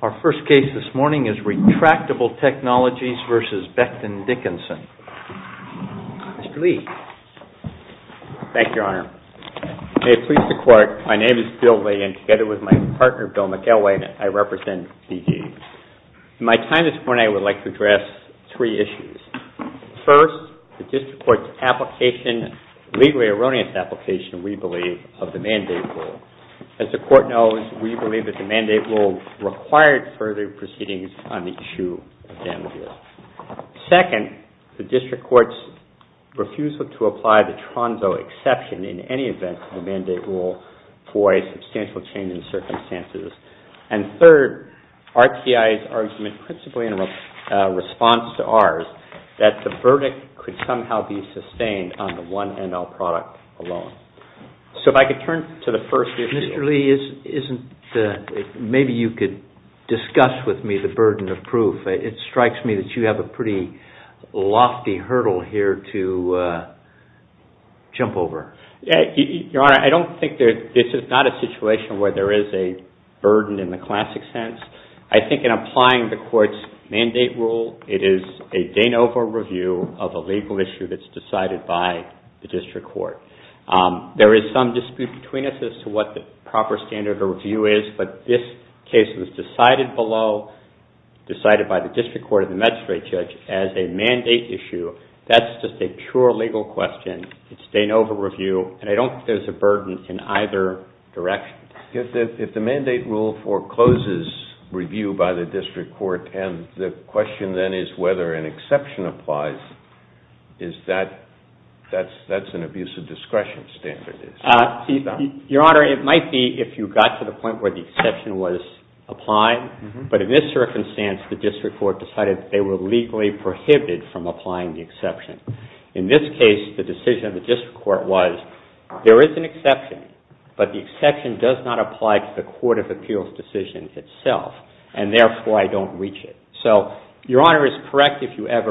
Our first case this morning is Retractable Technologies v. Becton Dickinson. Mr. Lee. Thank you, Your Honor. May it please the Court, my name is Bill Lee and together with my partner, Bill McElwain, I represent C.G. In my time this morning, I would like to address three issues. First, the District Court's application, legally erroneous application, we believe, of the mandate rule. As the Court knows, we believe that the mandate rule required further proceedings on the issue of damages. Second, the District Court's refusal to apply the Tronzo exception in any event of the mandate rule for a substantial change in circumstances. And third, RTI's argument, principally in response to ours, that the verdict could somehow be sustained on the one ML product alone. So if I could turn to the first issue. Mr. Lee, maybe you could discuss with me the burden of proof. It strikes me that you have a pretty lofty hurdle here to jump over. Your Honor, I don't think this is not a situation where there is a burden in the classic sense. I think in applying the Court's mandate rule, it is a de novo review of a legal issue that's decided by the District Court. There is some dispute between us as to what the proper standard of review is, but this case was decided below, decided by the District Court and the magistrate judge as a mandate issue. That's just a pure legal question. It's a de novo review, and I don't think there's a burden in either direction. If the mandate rule forecloses review by the District Court, and the question then is whether an exception applies, that's an abuse of discretion standard. Your Honor, it might be if you got to the point where the exception was applied, but in this circumstance, the District Court decided they were legally prohibited from applying the exception. In this case, the decision of the District Court was there is an exception, but the exception does not apply to the Court of Appeals decision itself, and therefore, I don't reach it. Your Honor is correct if you ever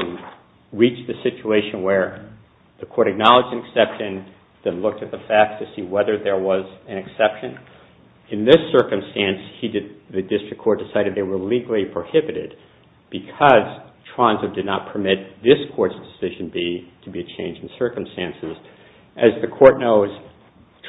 reach the situation where the Court acknowledged an exception then looked at the facts to see whether there was an exception. In this circumstance, the District Court decided they were legally prohibited because Tronzo did not permit this Court's decision B to be a change in circumstances. As the Court knows,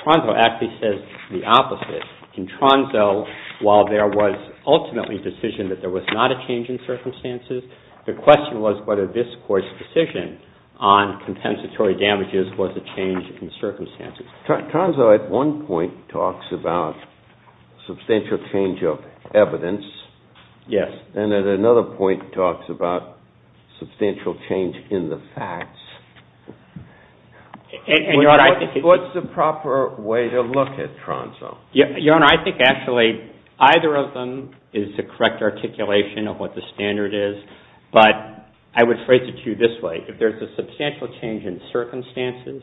Tronzo actually says the opposite. In Tronzo, while there was ultimately a decision that there was not a change in circumstances, the question was whether this Court's decision on compensatory damages was a change in circumstances. Tronzo at one point talks about substantial change of evidence. And at another point talks about substantial change in the facts. What's the proper way to look at Tronzo? Your Honor, I think actually either of them is the correct articulation of what the standard is, but I would phrase it to you this way. If there's a substantial change in circumstances,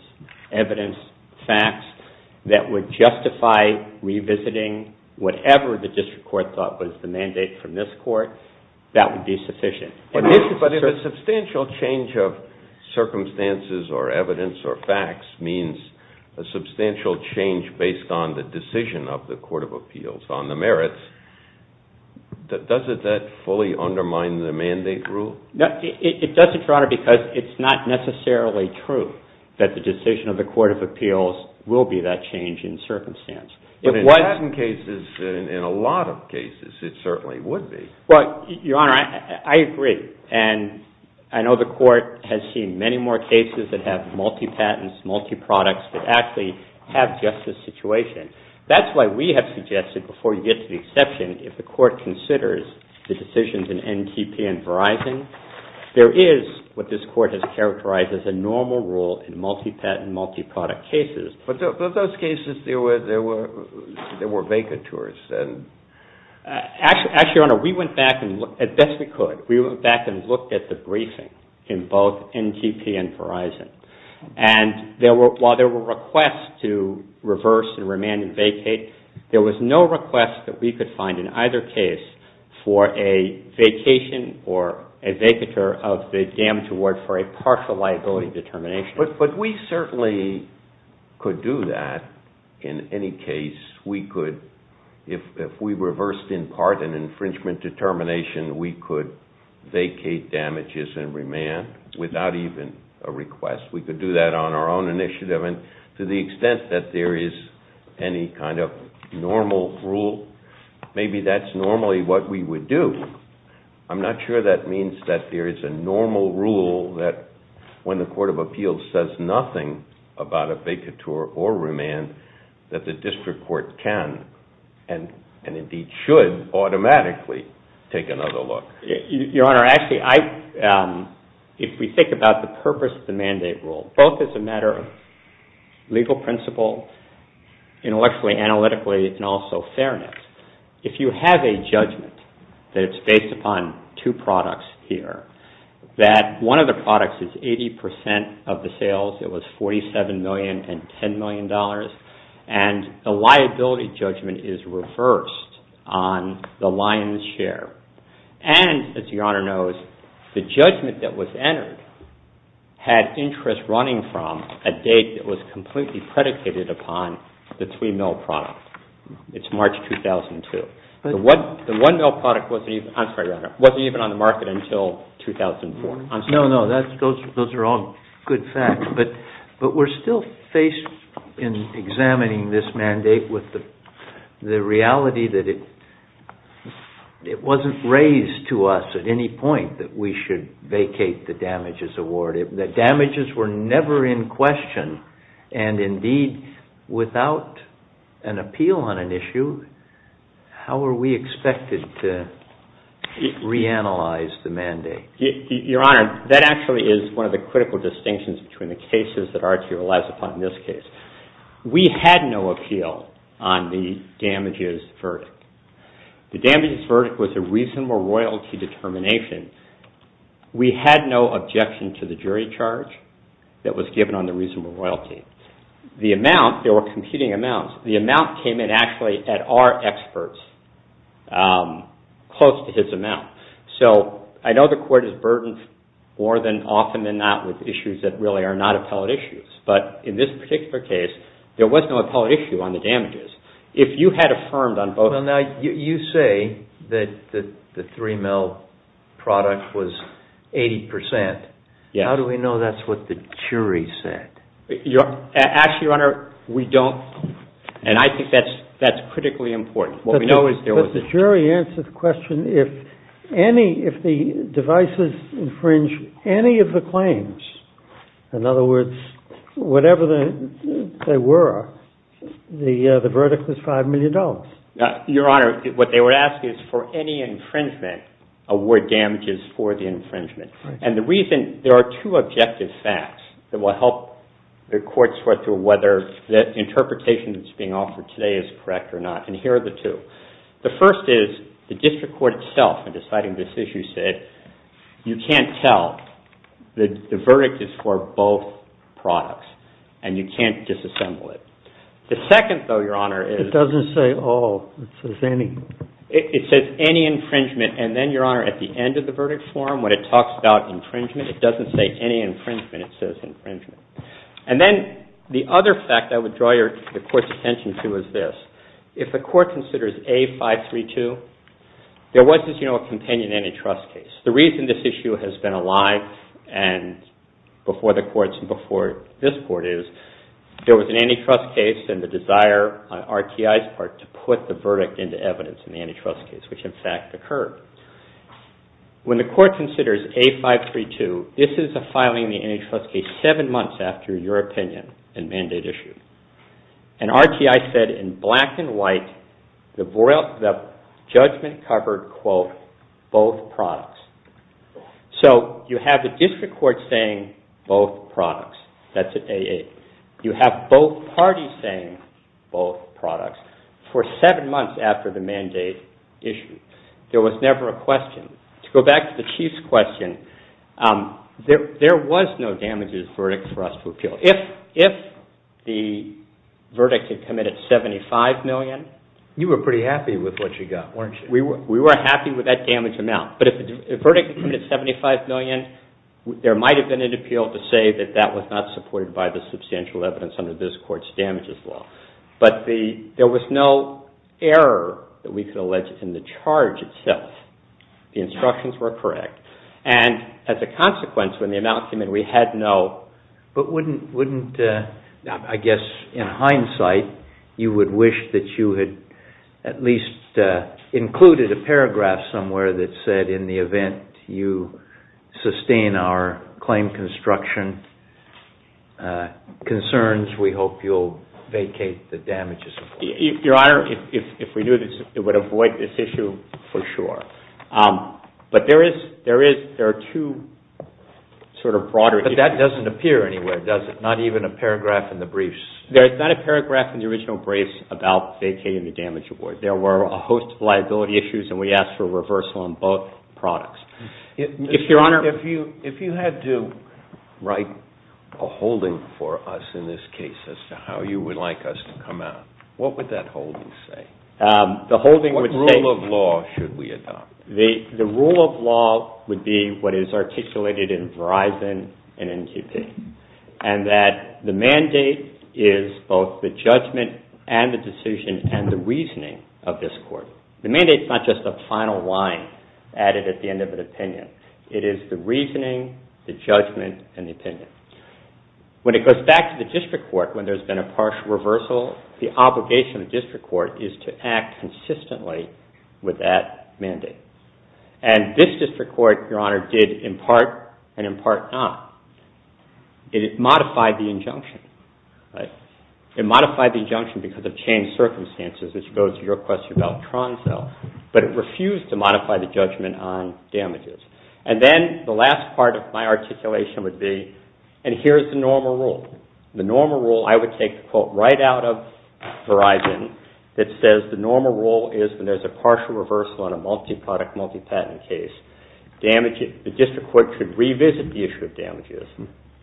evidence, facts, that would justify revisiting whatever the District Court thought was the mandate from this Court, that would be sufficient. But if a substantial change of circumstances or evidence or facts means a substantial change based on the decision of the Court of Appeals on the merits, does that fully undermine the mandate rule? It doesn't, Your Honor, because it's not necessarily true that the decision of the Court of Appeals will be that change in circumstance. But in patent cases, in a lot of cases, it certainly would be. Well, Your Honor, I agree. And I know the Court has seen many more cases that have multi-patents, multi-products, that actually have just this situation. That's why we have suggested, before you get to the exception, if the Court considers the decisions in NTP and Verizon, there is what this Court has characterized as a normal rule in multi-patent, multi-product cases. But in those cases, there were vacatures. Actually, Your Honor, we went back and, as best we could, we went back and looked at the briefing in both NTP and Verizon. And while there were requests to reverse and remand and vacate, there was no request that we could find in either case for a vacation or a vacature of the damage award for a partial liability determination. But we certainly could do that in any case. We could, if we reversed in part an infringement determination, we could vacate damages and remand without even a request. We could do that on our own initiative. And to the extent that there is any kind of normal rule, maybe that's normally what we would do. I'm not sure that means that there is a normal rule that, when the Court of Appeals says nothing about a vacature or remand, that the District Court can, and indeed should, automatically take another look. Your Honor, actually, if we think about the purpose of the mandate rule, both as a matter of legal principle, intellectually, analytically, and also fairness, if you have a judgment that it's based upon two products here, that one of the products is 80 percent of the sales, it was $47 million and $10 million, and the liability judgment is reversed on the lion's share, and, as Your Honor knows, the judgment that was entered had interest running from a date that was completely predicated upon the 3-mil product. It's March 2002. The 1-mil product wasn't even on the market until 2004. No, no, those are all good facts, but we're still faced in examining this mandate with the reality that it wasn't raised to us at any point that we should vacate the damages award. The damages were never in question, and indeed, without an appeal on an issue, how are we expected to reanalyze the mandate? Your Honor, that actually is one of the critical distinctions between the cases that RTO relies upon in this case. We had no appeal on the damages verdict. The damages verdict was a reasonable royalty determination. We had no objection to the jury charge that was given on the reasonable royalty. The amount, there were competing amounts. The amount came in, actually, at our experts, close to his amount. So I know the Court is burdened more than often than not with issues that really are not appellate issues, but in this particular case, there was no appellate issue on the damages. If you had affirmed on both... How do we know that's what the jury said? Actually, Your Honor, we don't, and I think that's critically important. But the jury answered the question, if any, if the devices infringe any of the claims, in other words, whatever they were, the verdict was $5 million. Your Honor, what they were asking is for any infringement, award damages for the infringement. And the reason, there are two objective facts that will help the Court sort through whether the interpretation that's being offered today is correct or not, and here are the two. The first is, the district court itself, in deciding this issue, said, you can't tell, the verdict is for both products, and you can't disassemble it. The second, though, Your Honor, is... It doesn't say all, it says any. It says any infringement, and then, Your Honor, at the end of the verdict form, when it talks about infringement, it doesn't say any infringement, it says infringement. And then, the other fact I would draw the Court's attention to is this. If the Court considers A-532, there was, as you know, a companion antitrust case. The reason this issue has been alive before the Courts and before this Court is, there was an antitrust case and the desire on RTI's part to put the verdict into evidence in the antitrust case, which, in fact, occurred. When the Court considers A-532, this is a filing in the antitrust case seven months after your opinion and mandate issue. And RTI said, in black and white, the judgment covered, quote, both products. So, you have the District Court saying, both products. That's at A-8. You have both parties saying, both products, for seven months after the mandate issue. There was never a question. To go back to the Chief's question, there was no damages verdict for us to appeal. If the verdict had committed $75 million... You were pretty happy with what you got, weren't you? We were happy with that damage amount, but if the verdict committed $75 million, there might have been an appeal to say that that was not supported by the substantial evidence under this Court's damages law. But there was no error that we could allege in the charge itself. The instructions were correct. And, as a consequence, when the amount came in, we had no... You included a paragraph somewhere that said, in the event you sustain our claim construction concerns, we hope you'll vacate the damages. Your Honor, if we knew this, it would avoid this issue for sure. But there are two sort of broader... But that doesn't appear anywhere, does it? Not even a paragraph in the briefs. There's not a paragraph in the original briefs about vacating the damage award. There were a host of liability issues, and we asked for a reversal on both products. If, Your Honor... If you had to write a holding for us in this case as to how you would like us to come out, what would that holding say? The holding would say... What rule of law should we adopt? The rule of law would be what is articulated in Verizon and NQP, and that the mandate is both the judgment and the decision and the reasoning of this court. The mandate's not just a final line added at the end of an opinion. It is the reasoning, the judgment, and the opinion. When it goes back to the district court, when there's been a partial reversal, the obligation of the district court is to act consistently with that mandate. And this district court, Your Honor, did in part and in part not. It modified the injunction. It modified the injunction because of changed circumstances, which goes to your question about Troncell, but it refused to modify the judgment on damages. And then the last part of my articulation would be, and here's the normal rule. The normal rule, I would take the quote right out of Verizon that says, the normal rule is when there's a partial reversal in a multi-product, multi-patent case, the district court should revisit the issue of damages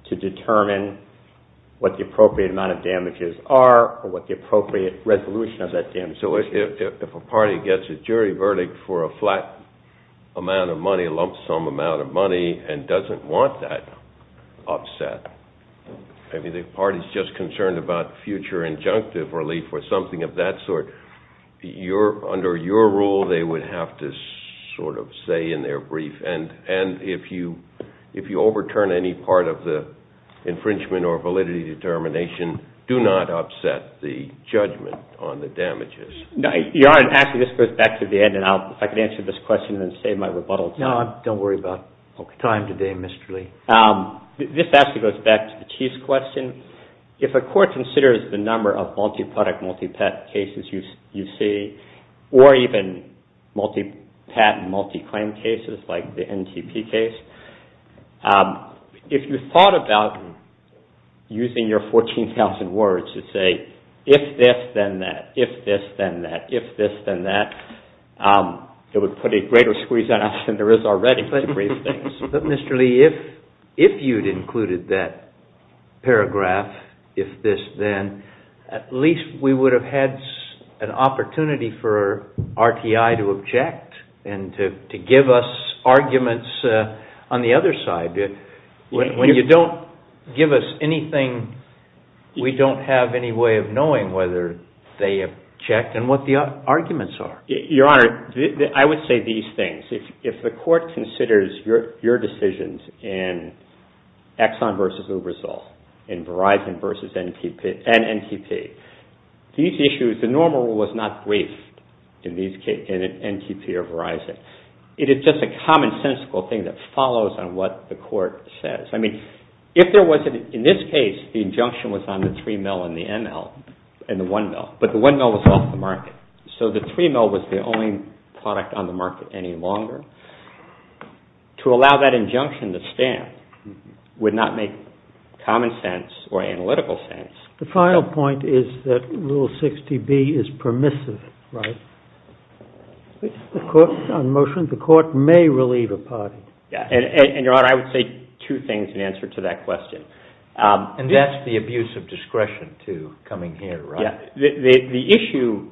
to determine what the appropriate amount of damages are or what the appropriate resolution of that damage is. So if a party gets a jury verdict for a flat amount of money, a lump sum amount of money, and doesn't want that upset, I mean, the party's just concerned about future injunctive relief or something of that sort. Under your rule, they would have to sort of say in their brief, and if you overturn any part of the infringement or validity determination, do not upset the judgment on the damages. Your Honor, actually, this goes back to the end, and if I could answer this question and then save my rebuttal. No, don't worry about time today, Mr. Lee. This actually goes back to the Chief's question. If a court considers the number of multi-product, multi-patent cases you see, or even multi-patent, multi-claim cases like the NTP case, if you thought about using your 14,000 words to say, if this, then that, if this, then that, if this, then that, it would put a greater squeeze on us than there is already. But, Mr. Lee, if you'd included that paragraph, if this, then, at least we would have had an opportunity for RTI to object and to give us arguments on the other side. When you don't give us anything, we don't have any way of knowing whether they object and what the arguments are. Your Honor, I would say these things. If the court considers your decisions in Exxon v. Uberzoll, in Verizon v. NTP, these issues, the normal rule is not briefed in NTP or Verizon. It is just a common sensical thing that follows on what the court says. I mean, if there was, in this case, the injunction was on the 3-mil and the 1-mil, but the 1-mil was off the market, so the 3-mil was the only product on the market any longer, to allow that injunction to stand would not make common sense or analytical sense. The final point is that Rule 60B is permissive, right? On motion, the court may relieve a party. And, Your Honor, I would say two things in answer to that question. And that's the abuse of discretion, too, coming here, right? The issue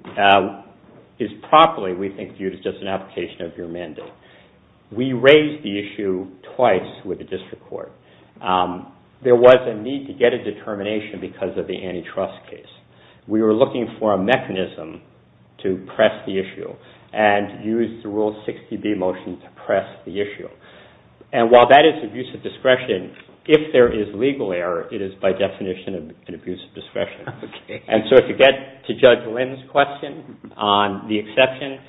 is properly, we think, viewed as just an application of your mandate. We raised the issue twice with the district court. There was a need to get a determination because of the antitrust case. We were looking for a mechanism to press the issue and used the Rule 60B motion to press the issue. And while that is abuse of discretion, if there is legal error, it is, by definition, an abuse of discretion. And so if you get to Judge Lynn's question on the exception,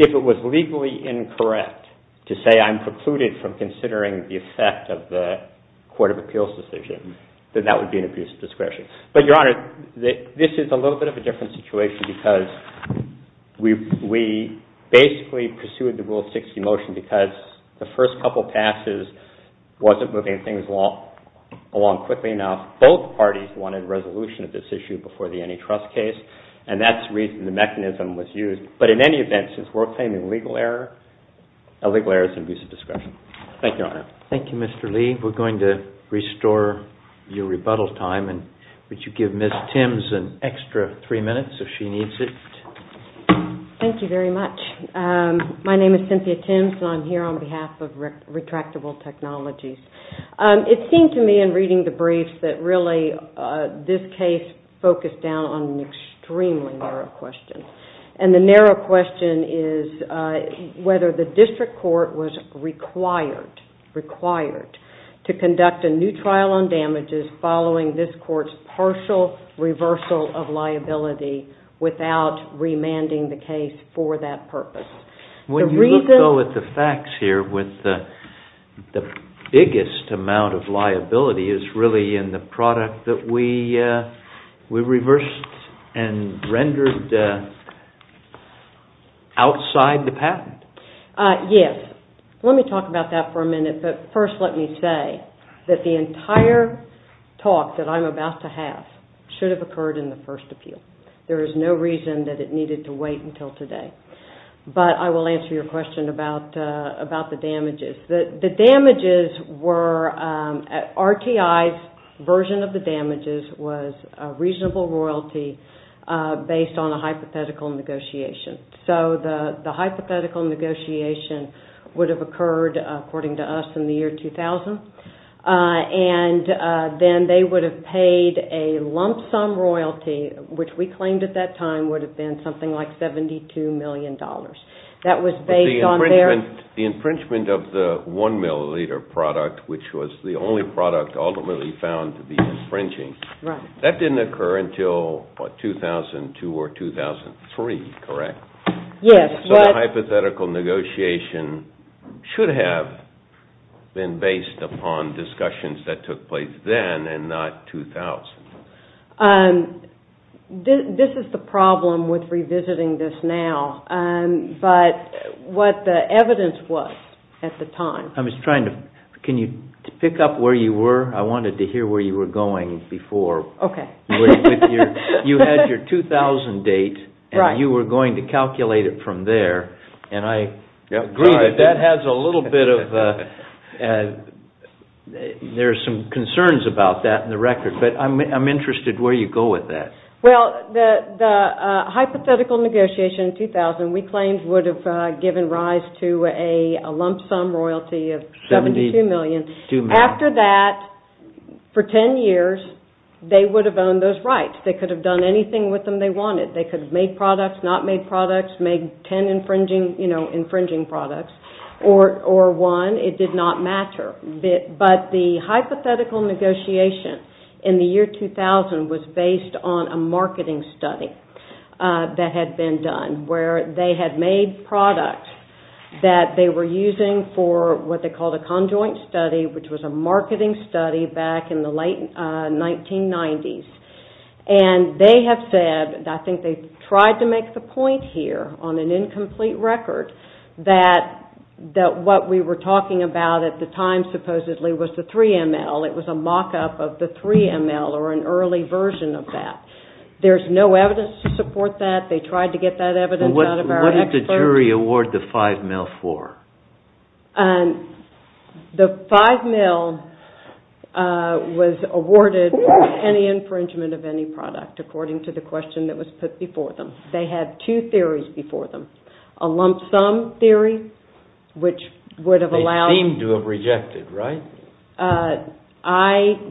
if it was legally incorrect to say, I'm precluded from considering the effect of the court of appeals decision, then that would be an abuse of discretion. But, Your Honor, this is a little bit of a different situation because we basically pursued the Rule 60 motion because the first couple passes wasn't moving things along quickly enough. Both parties wanted resolution of this issue before the antitrust case. And that's the reason the mechanism was used. But in any event, since we're claiming legal error, illegal error is an abuse of discretion. Thank you, Your Honor. Thank you, Mr. Lee. We're going to restore your rebuttal time. And would you give Ms. Timms an extra three minutes if she needs it? Thank you very much. My name is Cynthia Timms, and I'm here on behalf of Retractable Technologies. It seemed to me in reading the briefs that, really, this case focused down on an extremely narrow question. And the narrow question is whether the district court was required to conduct a new trial on damages following this court's partial reversal of liability without remanding the case for that purpose. When you look, though, at the facts here, the biggest amount of liability is really in the product that we reversed and rendered outside the patent. Yes. Let me talk about that for a minute. But first let me say that the entire talk that I'm about to have should have occurred in the first appeal. There is no reason that it needed to wait until today. But I will answer your question about the damages. The damages were RTI's version of the damages was a reasonable royalty based on a hypothetical negotiation. So the hypothetical negotiation would have occurred, according to us, in the year 2000. And then they would have paid a lump sum royalty, which we claimed at that time would have been something like $72 million. But the infringement of the one milliliter product, which was the only product ultimately found to be infringing, that didn't occur until, what, 2002 or 2003, correct? Yes. So the hypothetical negotiation should have been based upon discussions that took place then and not 2000. This is the problem with revisiting this now. But what the evidence was at the time. Can you pick up where you were? I wanted to hear where you were going before. Okay. You had your 2000 date, and you were going to calculate it from there. And I agree that that has a little bit of – there are some concerns about that in the record. But I'm interested where you go with that. Well, the hypothetical negotiation in 2000, we claimed would have given rise to a lump sum royalty of $72 million. After that, for 10 years, they would have owned those rights. They could have done anything with them they wanted. They could have made products, not made products, made 10 infringing products, or won. It did not matter. But the hypothetical negotiation in the year 2000 was based on a marketing study that had been done where they had made products that they were using for what they called a conjoint study, which was a marketing study back in the late 1990s. And they have said, I think they tried to make the point here on an incomplete record, that what we were talking about at the time supposedly was the 3ML. It was a mock-up of the 3ML or an early version of that. There's no evidence to support that. They tried to get that evidence out of our experts. What did the jury award the 5ML for? The 5ML was awarded for any infringement of any product, according to the question that was put before them. They had two theories before them. A lump sum theory, which would have allowed – They seemed to have rejected, right? I don't know.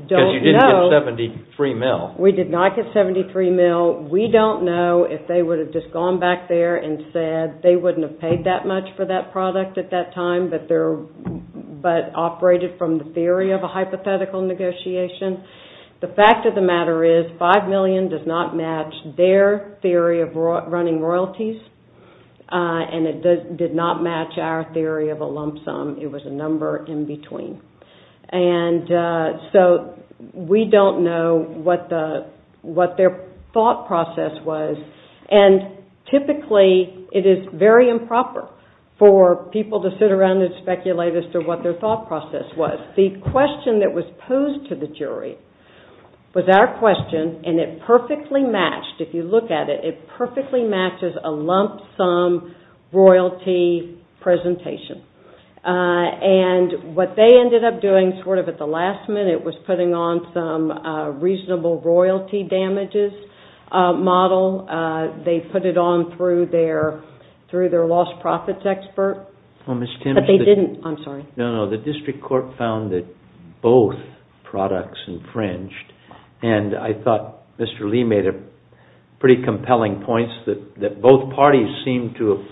Because you didn't get the 73ML. We did not get 73ML. We don't know if they would have just gone back there and said they wouldn't have paid that much for that product at that time but operated from the theory of a hypothetical negotiation. The fact of the matter is 5 million does not match their theory of running royalties, and it did not match our theory of a lump sum. It was a number in between. So we don't know what their thought process was, and typically it is very improper for people to sit around and speculate as to what their thought process was. The question that was posed to the jury was our question, and it perfectly matched – if you look at it, it perfectly matches a lump sum royalty presentation. And what they ended up doing sort of at the last minute was putting on some reasonable royalty damages model. They put it on through their lost profits expert. But they didn't – I'm sorry. No, no. The district court found that both products infringed, and I thought Mr. Lee made pretty compelling points that both parties seemed to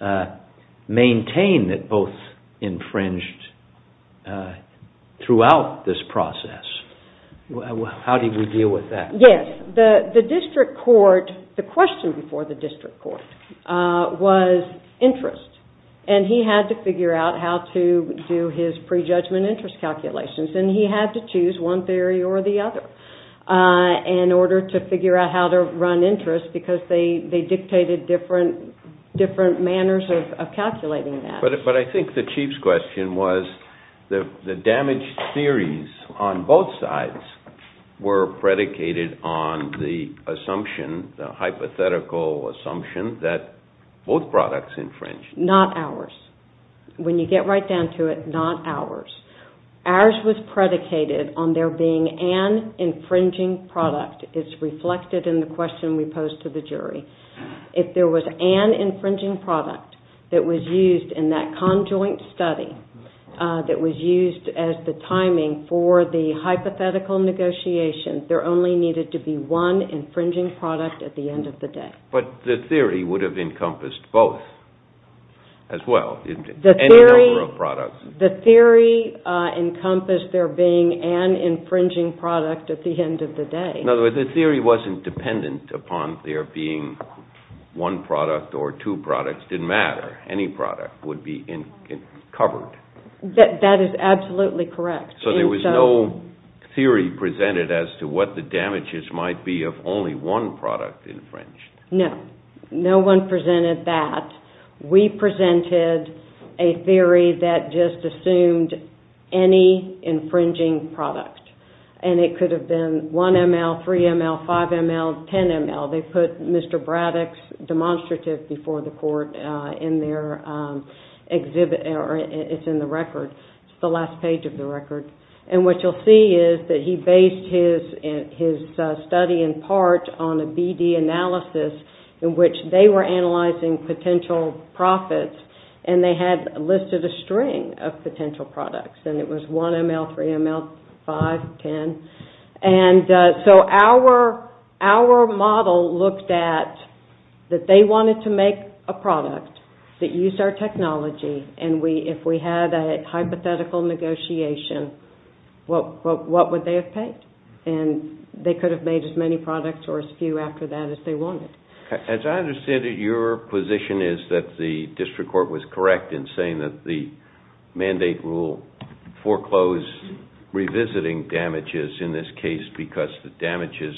have maintained that both infringed throughout this process. How did we deal with that? Yes. The district court – the question before the district court was interest, and he had to figure out how to do his prejudgment interest calculations, and he had to choose one theory or the other in order to figure out how to run interest, because they dictated different manners of calculating that. But I think the chief's question was the damaged theories on both sides were predicated on the assumption, the hypothetical assumption, that both products infringed. Not ours. When you get right down to it, not ours. Ours was predicated on there being an infringing product. It's reflected in the question we posed to the jury. If there was an infringing product that was used in that conjoint study that was used as the timing for the hypothetical negotiation, there only needed to be one infringing product at the end of the day. But the theory would have encompassed both as well, any number of products. The theory encompassed there being an infringing product at the end of the day. In other words, the theory wasn't dependent upon there being one product or two products. It didn't matter. Any product would be covered. That is absolutely correct. So there was no theory presented as to what the damages might be if only one product infringed. No. No one presented that. We presented a theory that just assumed any infringing product. And it could have been 1 ml, 3 ml, 5 ml, 10 ml. They put Mr. Braddock's demonstrative before the court in their exhibit. It's in the record. It's the last page of the record. And what you'll see is that he based his study in part on a BD analysis in which they were analyzing potential profits, and they had listed a string of potential products. And it was 1 ml, 3 ml, 5 ml, 10 ml. And so our model looked at that they wanted to make a product that used our technology, and if we had a hypothetical negotiation, what would they have paid? And they could have made as many products or as few after that as they wanted. As I understand it, your position is that the district court was correct in saying that the mandate rule foreclosed revisiting damages in this case because the damages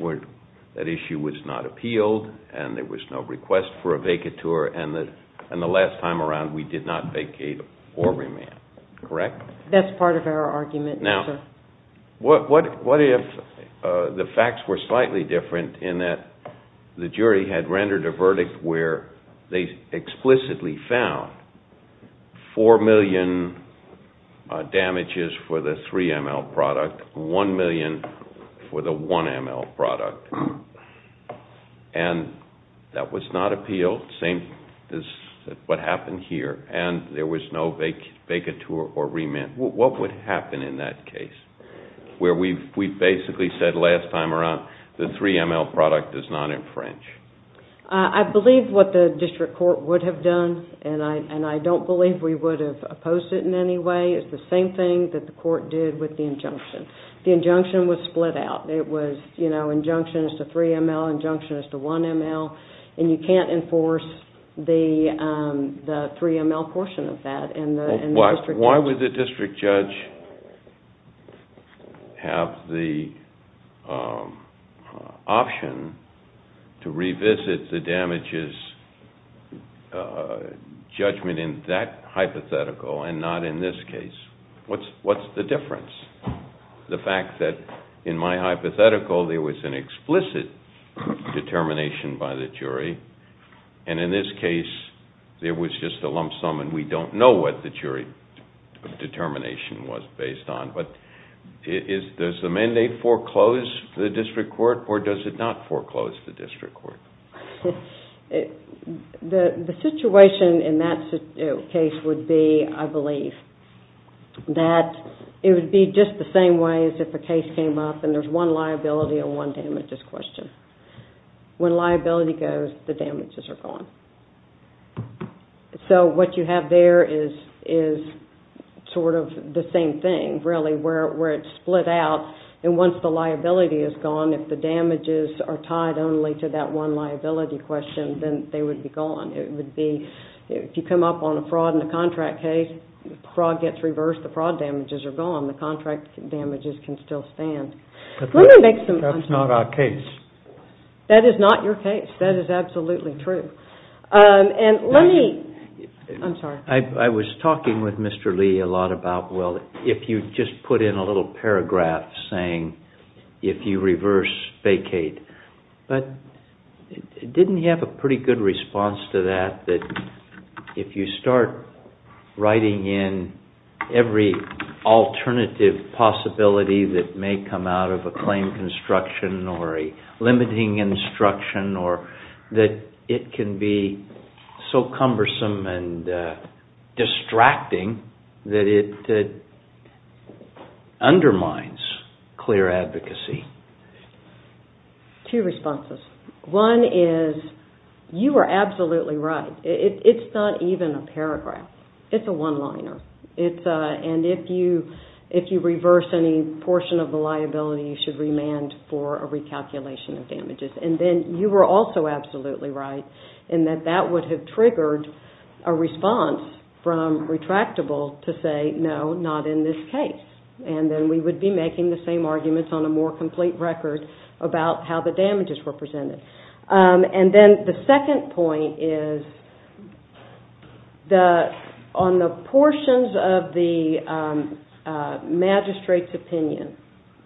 were that issue was not appealed and there was no request for a vacatur, and the last time around we did not vacate or remand, correct? That's part of our argument, yes, sir. What if the facts were slightly different in that the jury had rendered a verdict where they explicitly found 4 million damages for the 3 ml product, 1 million for the 1 ml product, and that was not appealed, same as what happened here, and there was no vacatur or remand. What would happen in that case where we basically said last time around the 3 ml product does not infringe? I believe what the district court would have done, and I don't believe we would have opposed it in any way. It's the same thing that the court did with the injunction. The injunction was split out. It was injunction as to 3 ml, injunction as to 1 ml, and you can't enforce the 3 ml portion of that. Why would the district judge have the option to revisit the damages judgment in that hypothetical and not in this case? What's the difference? The fact that in my hypothetical there was an explicit determination by the jury, and in this case there was just a lump sum and we don't know what the jury determination was based on, but does the mandate foreclose the district court or does it not foreclose the district court? The situation in that case would be, I believe, that it would be just the same way as if a case came up and there's one liability and one damages question. When liability goes, the damages are gone. So what you have there is sort of the same thing, really, where it's split out and once the liability is gone, if the damages are tied only to that one liability question, then they would be gone. If you come up on a fraud in a contract case, the fraud gets reversed, the fraud damages are gone, the contract damages can still stand. Let me make some... That's not our case. That is not your case. That is absolutely true. And let me... I'm sorry. I was talking with Mr. Lee a lot about, well, if you just put in a little paragraph saying, if you reverse vacate, but didn't he have a pretty good response to that, that if you start writing in every alternative possibility that may come out of a claim construction or a limiting instruction or that it can be so cumbersome and distracting that it undermines clear advocacy. Two responses. One is, you are absolutely right. It's not even a paragraph. It's a one-liner. And if you reverse any portion of the liability, you should remand for a recalculation of damages. And then you were also absolutely right in that that would have triggered a response from retractable to say, no, not in this case. And then we would be making the same arguments on a more complete record about how the damages were presented. And then the second point is, on the portions of the magistrate's opinion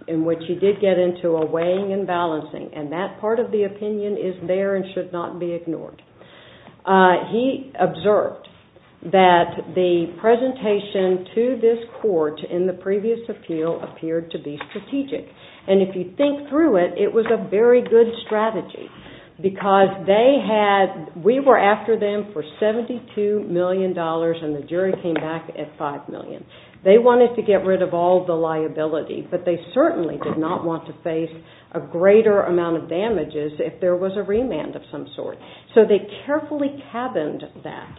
in which he did get into a weighing and balancing, and that part of the opinion is there and should not be ignored, he observed that the presentation to this court in the previous appeal appeared to be strategic. And if you think through it, it was a very good strategy because we were after them for $72 million and the jury came back at $5 million. They wanted to get rid of all the liability, but they certainly did not want to face a greater amount of damages if there was a remand of some sort. So they carefully cabined that.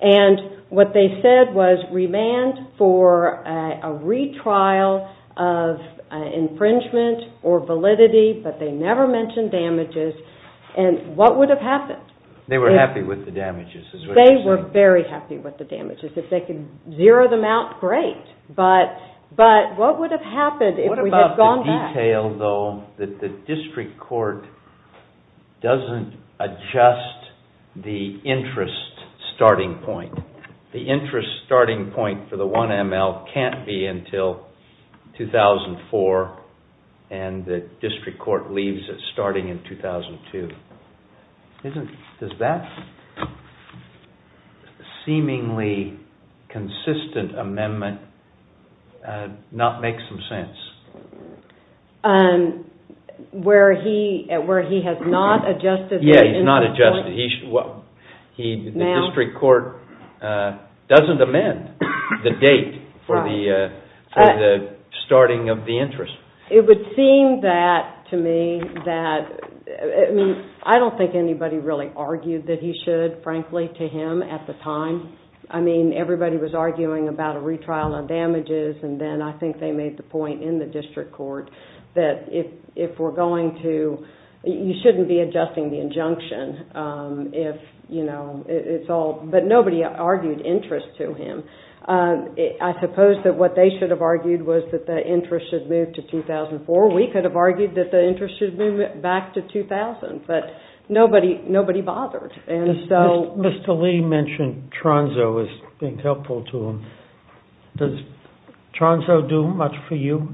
And what they said was remand for a retrial of infringement or validity, but they never mentioned damages. And what would have happened? They were happy with the damages. They were very happy with the damages. If they could zero them out, great. But what would have happened if we had gone back? What about the detail, though, that the district court doesn't adjust the interest starting point? The interest starting point for the 1 ML can't be until 2004, and the district court leaves it starting in 2002. Does that seemingly consistent amendment not make some sense? Where he has not adjusted the interest point? Yeah, he's not adjusted. The district court doesn't amend the date for the starting of the interest. It would seem that to me that, I mean, I don't think anybody really argued that he should, frankly, to him at the time. I mean, everybody was arguing about a retrial of damages, and then I think they made the point in the district court that if we're going to, you shouldn't be adjusting the injunction if, you know, it's all, but nobody argued interest to him. I suppose that what they should have argued was that the interest should move to 2004. We could have argued that the interest should move back to 2000, but nobody bothered, and so. Mr. Lee mentioned Tronzo as being helpful to him. Does Tronzo do much for you?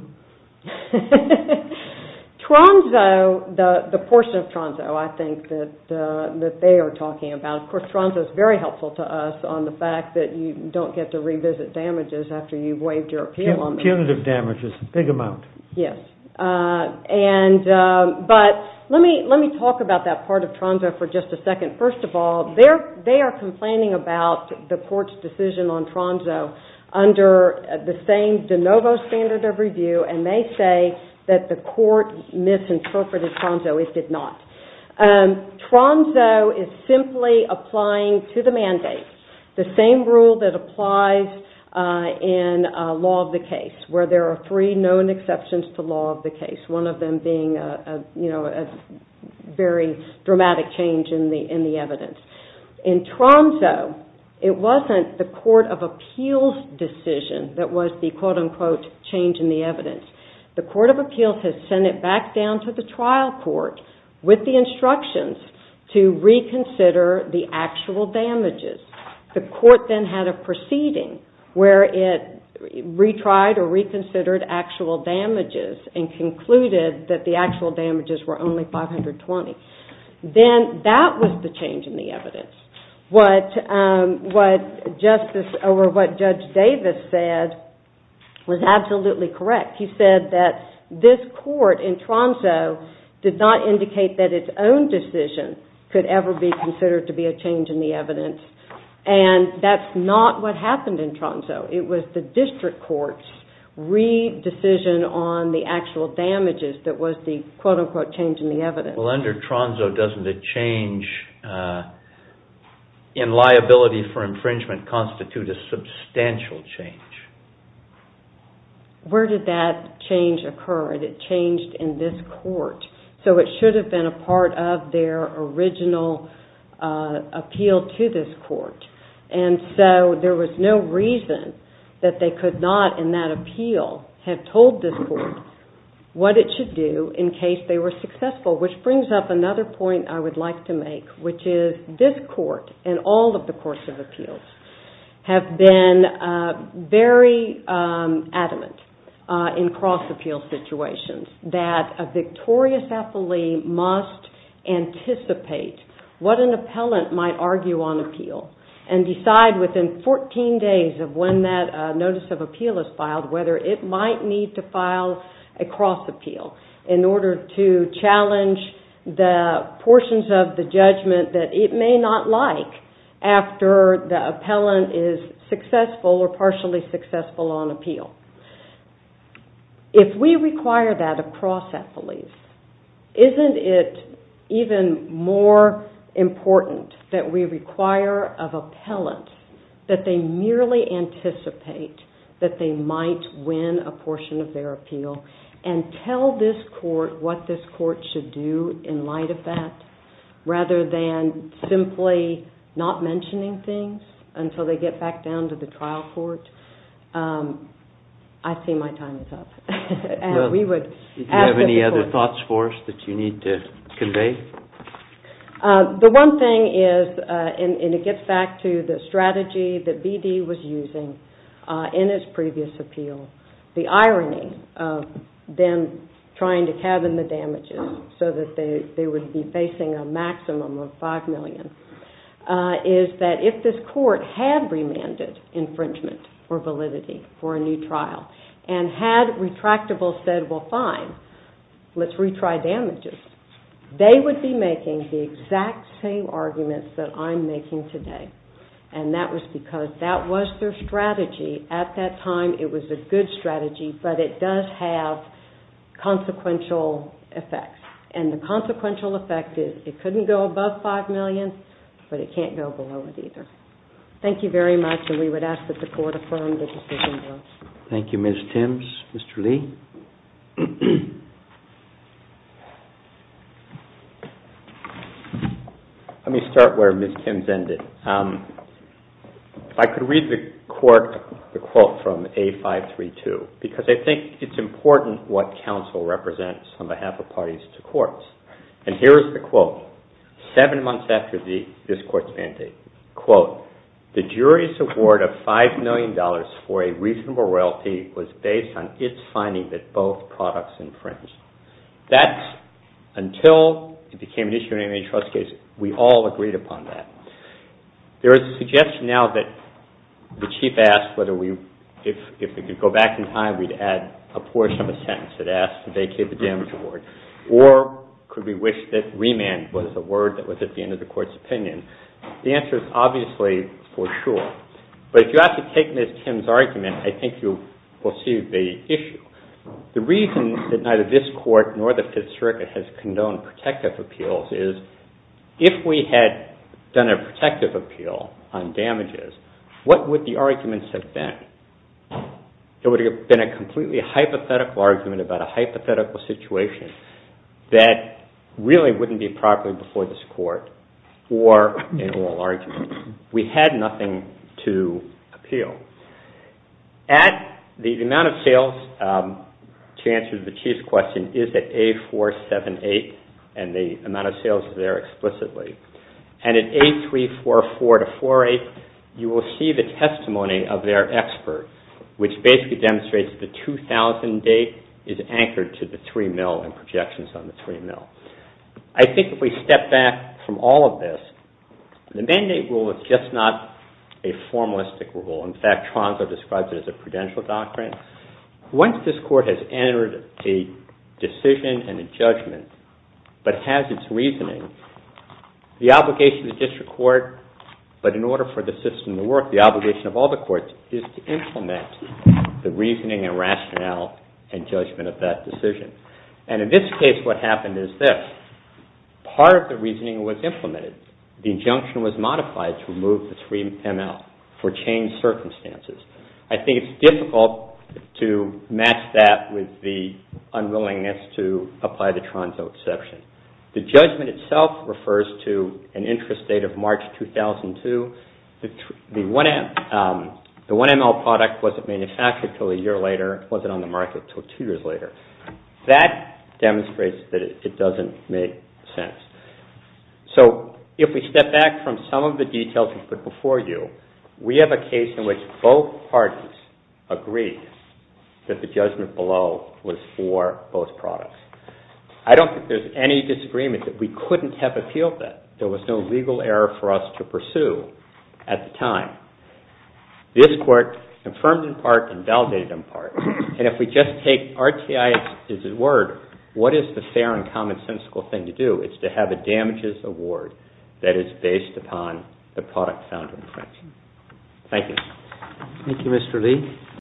Tronzo, the portion of Tronzo I think that they are talking about. Of course, Tronzo is very helpful to us on the fact that you don't get to revisit damages after you've waived your appeal on them. Punitive damages, a big amount. Yes. But let me talk about that part of Tronzo for just a second. First of all, they are complaining about the court's decision on Tronzo under the same de novo standard of review, and they say that the court misinterpreted Tronzo. It did not. Tronzo is simply applying to the mandate the same rule that applies in law of the case, where there are three known exceptions to law of the case, one of them being a very dramatic change in the evidence. In Tronzo, it wasn't the court of appeals decision that was the quote-unquote change in the evidence. The court of appeals has sent it back down to the trial court with the instructions to reconsider the actual damages. The court then had a proceeding where it retried or reconsidered actual damages and concluded that the actual damages were only 520. Then that was the change in the evidence. What Judge Davis said was absolutely correct. He said that this court in Tronzo did not indicate that its own decision could ever be considered to be a change in the evidence, and that's not what happened in Tronzo. It was the district court's re-decision on the actual damages that was the quote-unquote change in the evidence. Well, under Tronzo, doesn't a change in liability for infringement constitute a substantial change? Where did that change occur? It changed in this court, so it should have been a part of their original appeal to this court. And so there was no reason that they could not, in that appeal, have told this court what it should do in case they were successful, which brings up another point I would like to make, which is this court and all of the courts of appeals have been very adamant in cross-appeal situations that a victorious affilee must anticipate what an appellant might argue on appeal and decide within 14 days of when that notice of appeal is filed whether it might need to file a cross-appeal in order to challenge the portions of the judgment that it may not like after the appellant is successful or partially successful on appeal. If we require that across affilies, isn't it even more important that we require of appellants that they merely anticipate that they might win a portion of their appeal and tell this court what this court should do in light of that rather than simply not mentioning things until they get back down to the trial court? I see my time is up. Do you have any other thoughts for us that you need to convey? The one thing is, and it gets back to the strategy that BD was using in its previous appeal, the irony of them trying to cabin the damages so that they would be facing a maximum of $5 million is that if this court had remanded infringement or validity for a new trial and had retractable said, well, fine, let's retry damages, they would be making the exact same arguments that I'm making today. And that was because that was their strategy. At that time, it was a good strategy, but it does have consequential effects. And the consequential effect is it couldn't go above $5 million, but it can't go below it either. Thank you very much. And we would ask that the court affirm the decision votes. Thank you, Ms. Timms. Mr. Lee? Let me start where Ms. Timms ended. If I could read the quote from A532, because I think it's important what counsel represents on behalf of parties to courts. And here is the quote. Seven months after this court's mandate, quote, the jury's award of $5 million for a reasonable royalty was based on its finding that both products infringed. That's until it became an issue in a trust case. We all agreed upon that. There is a suggestion now that the Chief asked whether if we could go back in time, we'd add a portion of a sentence that asks to vacate the damage award. Or could we wish that remand was a word that was at the end of the court's opinion? The answer is obviously for sure. But if you have to take Ms. Timms' argument, I think you will see the issue. The reason that neither this court nor the Fifth Circuit has condoned protective appeals is if we had done a protective appeal on damages, what would the arguments have been? It would have been a completely hypothetical argument about a hypothetical situation that really wouldn't be properly before this court, or an oral argument. We had nothing to appeal. The amount of sales, to answer the Chief's question, is at A478, and the amount of sales is there explicitly. And at A344-48, you will see the testimony of their expert, which basically demonstrates that the 2000 date is anchored to the 3 mil and projections on the 3 mil. I think if we step back from all of this, the mandate rule is just not a formalistic rule. In fact, Tronso describes it as a prudential doctrine. Once this court has entered a decision and a judgment, but has its reasoning, the obligation of the district court, but in order for the system to work, the obligation of all the courts, is to implement the reasoning and rationale and judgment of that decision. And in this case, what happened is this. Part of the reasoning was implemented. The injunction was modified to remove the 3 mil for changed circumstances. I think it's difficult to match that with the unwillingness to apply the Tronso exception. The judgment itself refers to an interest date of March 2002. The 1 mil product wasn't manufactured until a year later. It wasn't on the market until two years later. That demonstrates that it doesn't make sense. So if we step back from some of the details we put before you, we have a case in which both parties agree that the judgment below was for both products. I don't think there's any disagreement that we couldn't have appealed that. There was no legal error for us to pursue at the time. This court confirmed in part and validated in part. And if we just take RTI as a word, what is the fair and commonsensical thing to do? It's to have a damages award that is based upon the product found in the French. Thank you. Thank you, Mr. Lee.